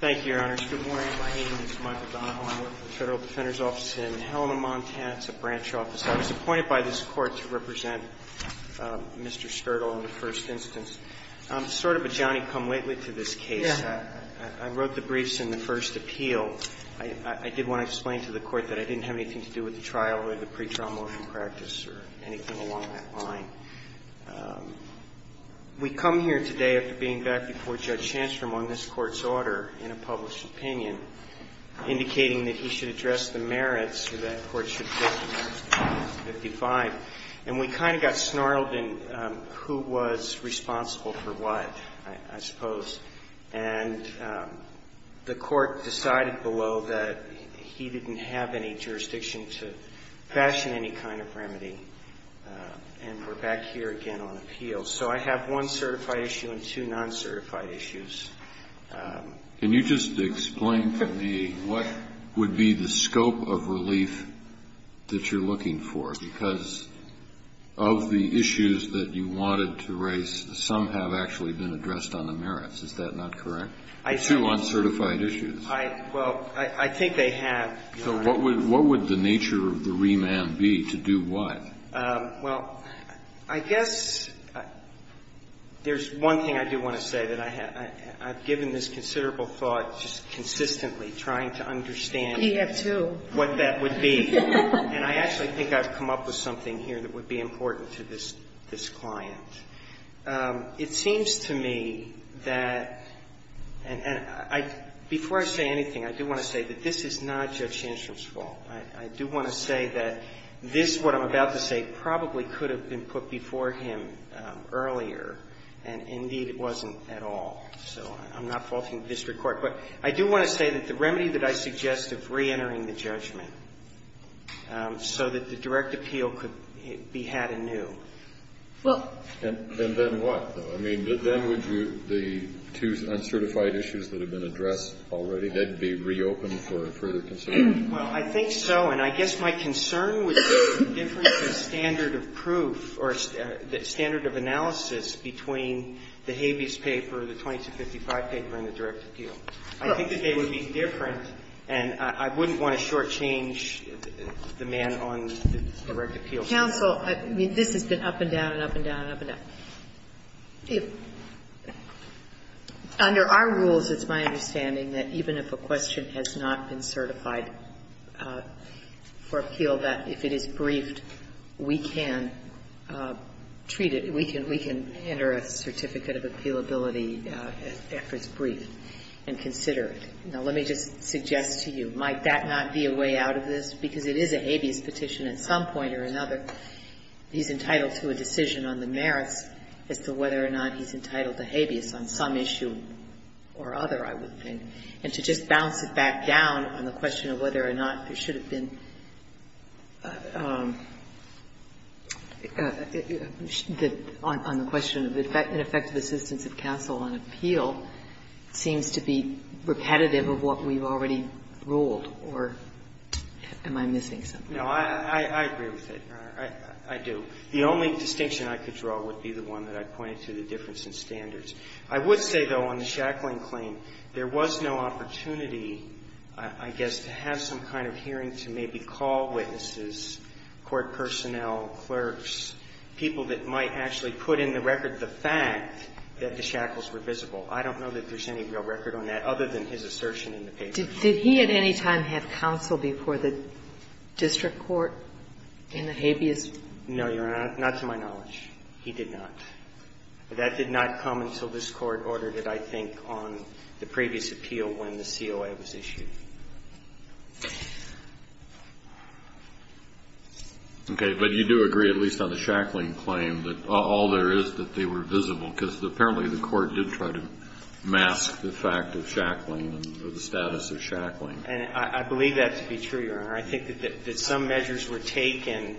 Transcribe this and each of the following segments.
Thank you, Your Honors. Good morning. My name is Michael Donahoe. I work for the Federal Defender's Office in Helena, Montana. It's a branch office. I was appointed by this Court to represent Mr. Skurdal in the first instance. I'm sort of a Johnny-come-lately to this case. I wrote the briefs in the first appeal. I did want to explain to the Court that I didn't have anything to do with the trial or the pretrial motion practice or anything along that line. We come here today after being back before Judge Hanscom on this Court's order in a published opinion, indicating that he should address the merits or that the Court should address the merits of Section 55. And we kind of got snarled in who was responsible for what, I suppose. And the Court decided below that he didn't have any jurisdiction to fashion any kind of remedy. And we're back here again on appeal. So I have one certified issue and two non-certified issues. Can you just explain to me what would be the scope of relief that you're looking for? Because of the issues that you wanted to raise, some have actually been addressed on the merits. Is that not correct? Two uncertified issues. Well, I think they have, Your Honor. So what would the nature of the remand be to do what? Well, I guess there's one thing I do want to say that I have. I've given this considerable thought just consistently trying to understand what that would be. We have, too. And I actually think I've come up with something here that would be important to this client. It seems to me that, and before I say anything, I do want to say that this is not Judge Hanscom's fault. I do want to say that this, what I'm about to say, probably could have been put before him earlier. And indeed, it wasn't at all. So I'm not faulting the district court. But I do want to say that the remedy that I suggest of reentering the judgment so that the direct appeal could be had anew. Well. And then what, though? I mean, then would the two uncertified issues that have been addressed already, they'd be reopened for further consideration? Well, I think so. And I guess my concern would be the difference in standard of proof or standard of analysis between the habeas paper, the 2255 paper, and the direct appeal. I think that they would be different, and I wouldn't want to shortchange the man on the direct appeal. Counsel, I mean, this has been up and down and up and down and up and down. Under our rules, it's my understanding that even if a question has not been certified for appeal, that if it is briefed, we can treat it, we can enter a certificate of appealability after it's briefed and consider it. Now, let me just suggest to you, might that not be a way out of this? Because it is a habeas petition at some point or another. He's entitled to a decision on the merits as to whether or not he's entitled to habeas on some issue or other, I would think. And to just bounce it back down on the question of whether or not there should have been the question of ineffective assistance of counsel on appeal seems to be repetitive of what we've already ruled, or am I missing something? No, I agree with it. I do. The only distinction I could draw would be the one that I pointed to, the difference in standards. I would say, though, on the shackling claim, there was no opportunity, I guess, to have some kind of hearing to maybe call witnesses, court personnel, clerks, people that might actually put in the record the fact that the shackles were visible. I don't know that there's any real record on that other than his assertion in the paper. Did he at any time have counsel before the district court in the habeas? No, Your Honor. Not to my knowledge. He did not. That did not come until this Court ordered it, I think, on the previous appeal when the COA was issued. Okay. But you do agree, at least on the shackling claim, that all there is that they were visible, because apparently the Court did try to mask the fact of shackling or the status of shackling. And I believe that to be true, Your Honor. I think that some measures were taken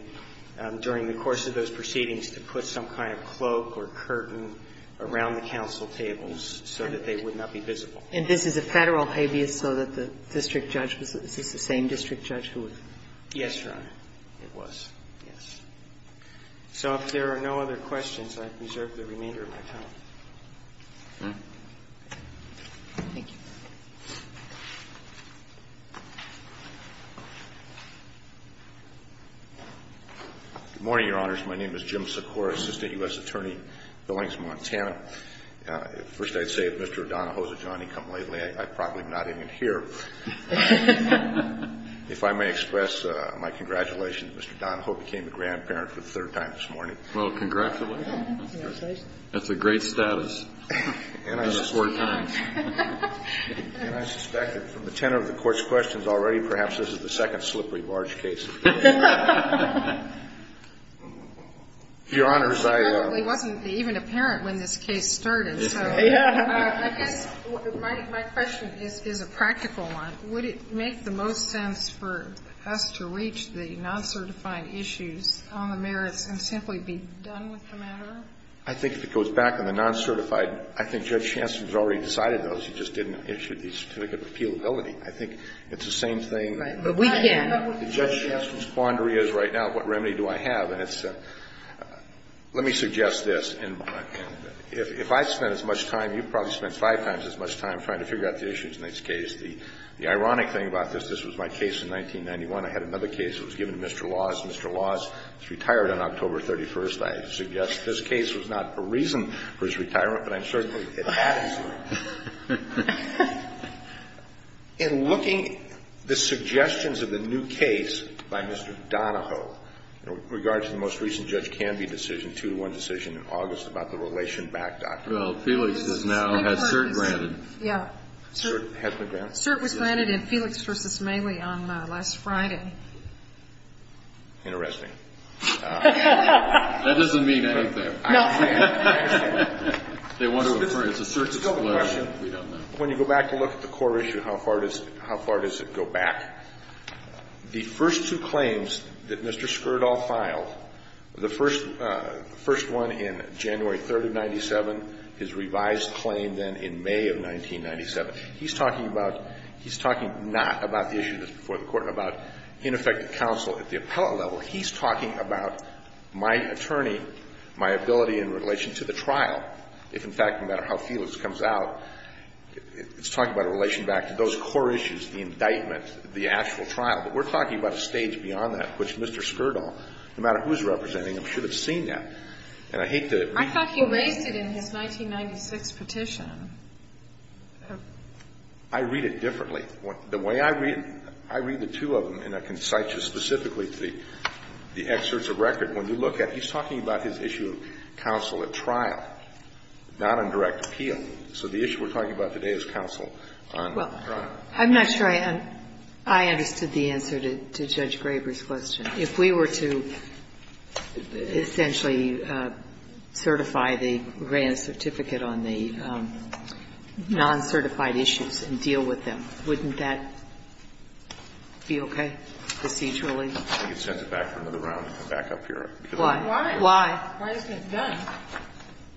during the course of those proceedings to put some kind of cloak or curtain around the counsel tables so that they would not be visible. And this is a Federal habeas so that the district judge was the same district judge who was? Yes, Your Honor, it was, yes. So if there are no other questions, I reserve the remainder of my time. Okay. Thank you. Good morning, Your Honors. My name is Jim Sikora, Assistant U.S. Attorney, Billings, Montana. First, I'd say if Mr. Donahoe's a Johnny come lately, I'd probably not even hear. If I may express my congratulations, Mr. Donahoe became a grandparent for the third time this morning. Well, congratulations. Congratulations. That's a great status. Four times. And I suspect that from the tenor of the Court's questions already, perhaps this is the second slippery barge case. Your Honors, I. It probably wasn't even apparent when this case started. Yeah. I guess my question is a practical one. Would it make the most sense for us to reach the non-certifying issues on the merits and simply be done with the matter? I think if it goes back on the non-certified, I think Judge Chancellor has already decided those. He just didn't issue the certificate of appealability. I think it's the same thing. But we can. The Judge Chancellor's quandary is right now, what remedy do I have? And it's a – let me suggest this. And if I spent as much time, you probably spent five times as much time trying to figure out the issues in this case. The ironic thing about this, this was my case in 1991. I had another case. It was given to Mr. Laws. Mr. Laws is retired on October 31st. I suggest this case was not a reason for his retirement, but I'm certain it had to be. In looking at the suggestions of the new case by Mr. Donahoe in regard to the most recent Judge Canby decision, 2-1 decision in August about the relation back, Dr. Well, Felix has now had CERT granted. Yeah. CERT has been granted? CERT was granted in Felix v. Maley on last Friday. Interesting. That doesn't mean anything. No. They want to refer it to CERT disclosure. We don't know. When you go back and look at the core issue, how far does it go back? The first two claims that Mr. Skirdal filed, the first one in January 3rd of 1997, his revised claim then in May of 1997, he's talking about – he's talking not about the issue that's before the Court and about ineffective counsel at the appellate level. He's talking about my attorney, my ability in relation to the trial. If, in fact, no matter how Felix comes out, it's talking about a relation back to those core issues, the indictment, the actual trial. But we're talking about a stage beyond that which Mr. Skirdal, no matter who's representing him, should have seen that. And I hate to – I thought he raised it in his 1996 petition. I read it differently. The way I read it, I read the two of them, and I can cite you specifically to the excerpts of record. When you look at it, he's talking about his issue of counsel at trial, not on direct appeal. So the issue we're talking about today is counsel on trial. Well, I'm not sure I understood the answer to Judge Graber's question. If we were to essentially certify the grant certificate on the non-certified issues and deal with them, wouldn't that be okay procedurally? I think it sends it back for another round to come back up here. Why? Why? Why isn't it done?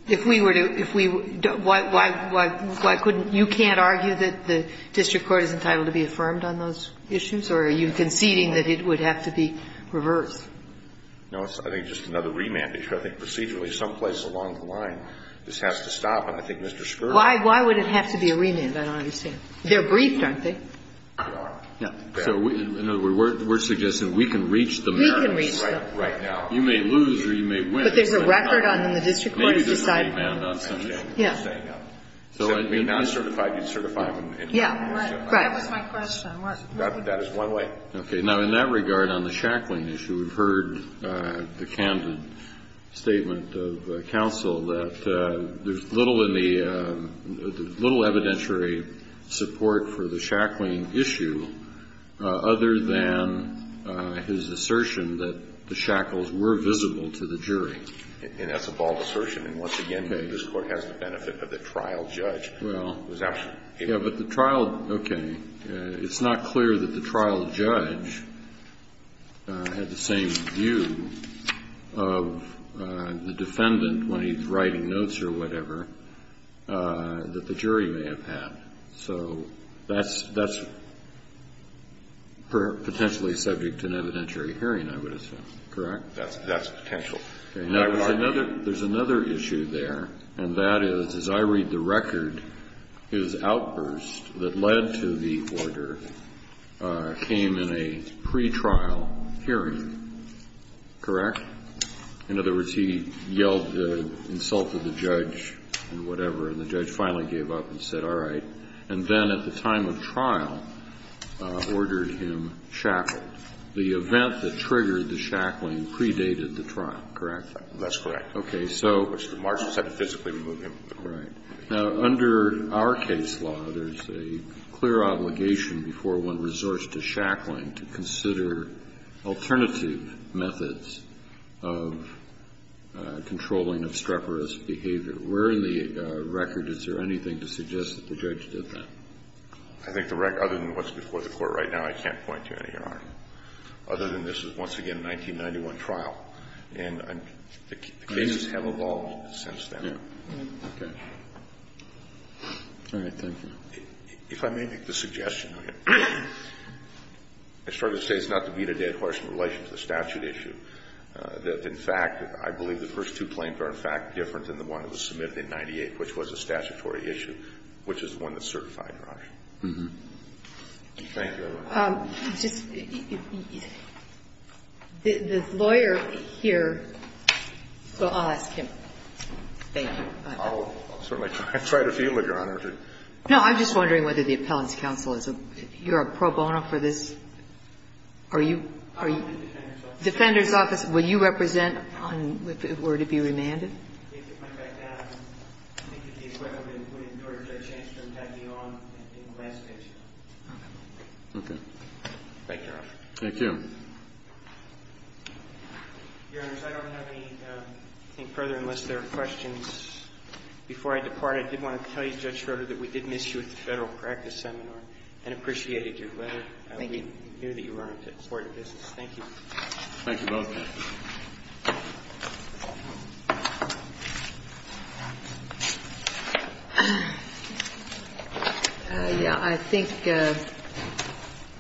If we were to – if we – why couldn't – you can't argue that the district court is entitled to be affirmed on those issues? Or are you conceding that it would have to be reversed? No, I think it's just another remand issue. I think procedurally some place along the line this has to stop. And I think Mr. Skirdal – Why would it have to be a remand? I don't understand. They're briefed, aren't they? They are. Yeah. So in other words, we're suggesting we can reach the merits. We can reach them. Right now. You may lose or you may win. But there's a record on the district court. Maybe there's a remand on some of them. Yeah. So if it's non-certified, you'd certify them. Yeah. Right. That was my question. That is one way. Okay. Now, in that regard, on the Shackling issue, we've heard the candid statement of counsel that there's little in the – little evidentiary support for the Shackling issue other than his assertion that the shackles were visible to the jury. And that's a bald assertion. And once again, this Court has the benefit of the trial judge. Well, yeah, but the trial – okay. It's not clear that the trial judge had the same view of the defendant when he's writing notes or whatever that the jury may have had. So that's potentially subject to an evidentiary hearing, I would assume. Correct? That's potential. Okay. Now, there's another issue there, and that is, as I read the record, his outburst that led to the order came in a pretrial hearing. Correct? In other words, he yelled – insulted the judge and whatever, and the judge finally gave up and said, all right. And then at the time of trial, ordered him shackled. The event that triggered the Shackling predated the trial, correct? That's correct. Okay. So – Which the margins had to physically remove him. Right. Now, under our case law, there's a clear obligation before one resorts to Shackling to consider alternative methods of controlling obstreperous behavior. Where in the record is there anything to suggest that the judge did that? I think the record – other than what's before the Court right now, I can't point to any, Your Honor. Other than this is, once again, a 1991 trial. And the cases have evolved since then. Okay. All right. Thank you. If I may make the suggestion, I started to say it's not to beat a dead horse in relation to the statute issue. In fact, I believe the first two claims are, in fact, different than the one that was submitted in 1998, which was a statutory issue, which is the one that certified your action. Thank you very much. The lawyer here – well, I'll ask him. Thank you. I'll certainly try to field it, Your Honor. No, I'm just wondering whether the appellant's counsel is a – you're a pro bono for this? Are you – Defender's office. Will you represent if it were to be remanded? Okay. Thank you, Your Honor. Thank you. Your Honors, I don't have anything further unless there are questions. Before I depart, I did want to tell you, Judge Schroeder, that we did miss you at the Federal Practice Seminar and appreciated your letter. Thank you. I knew that you were on to important business. Thank you. Thank you both. Yeah, I think –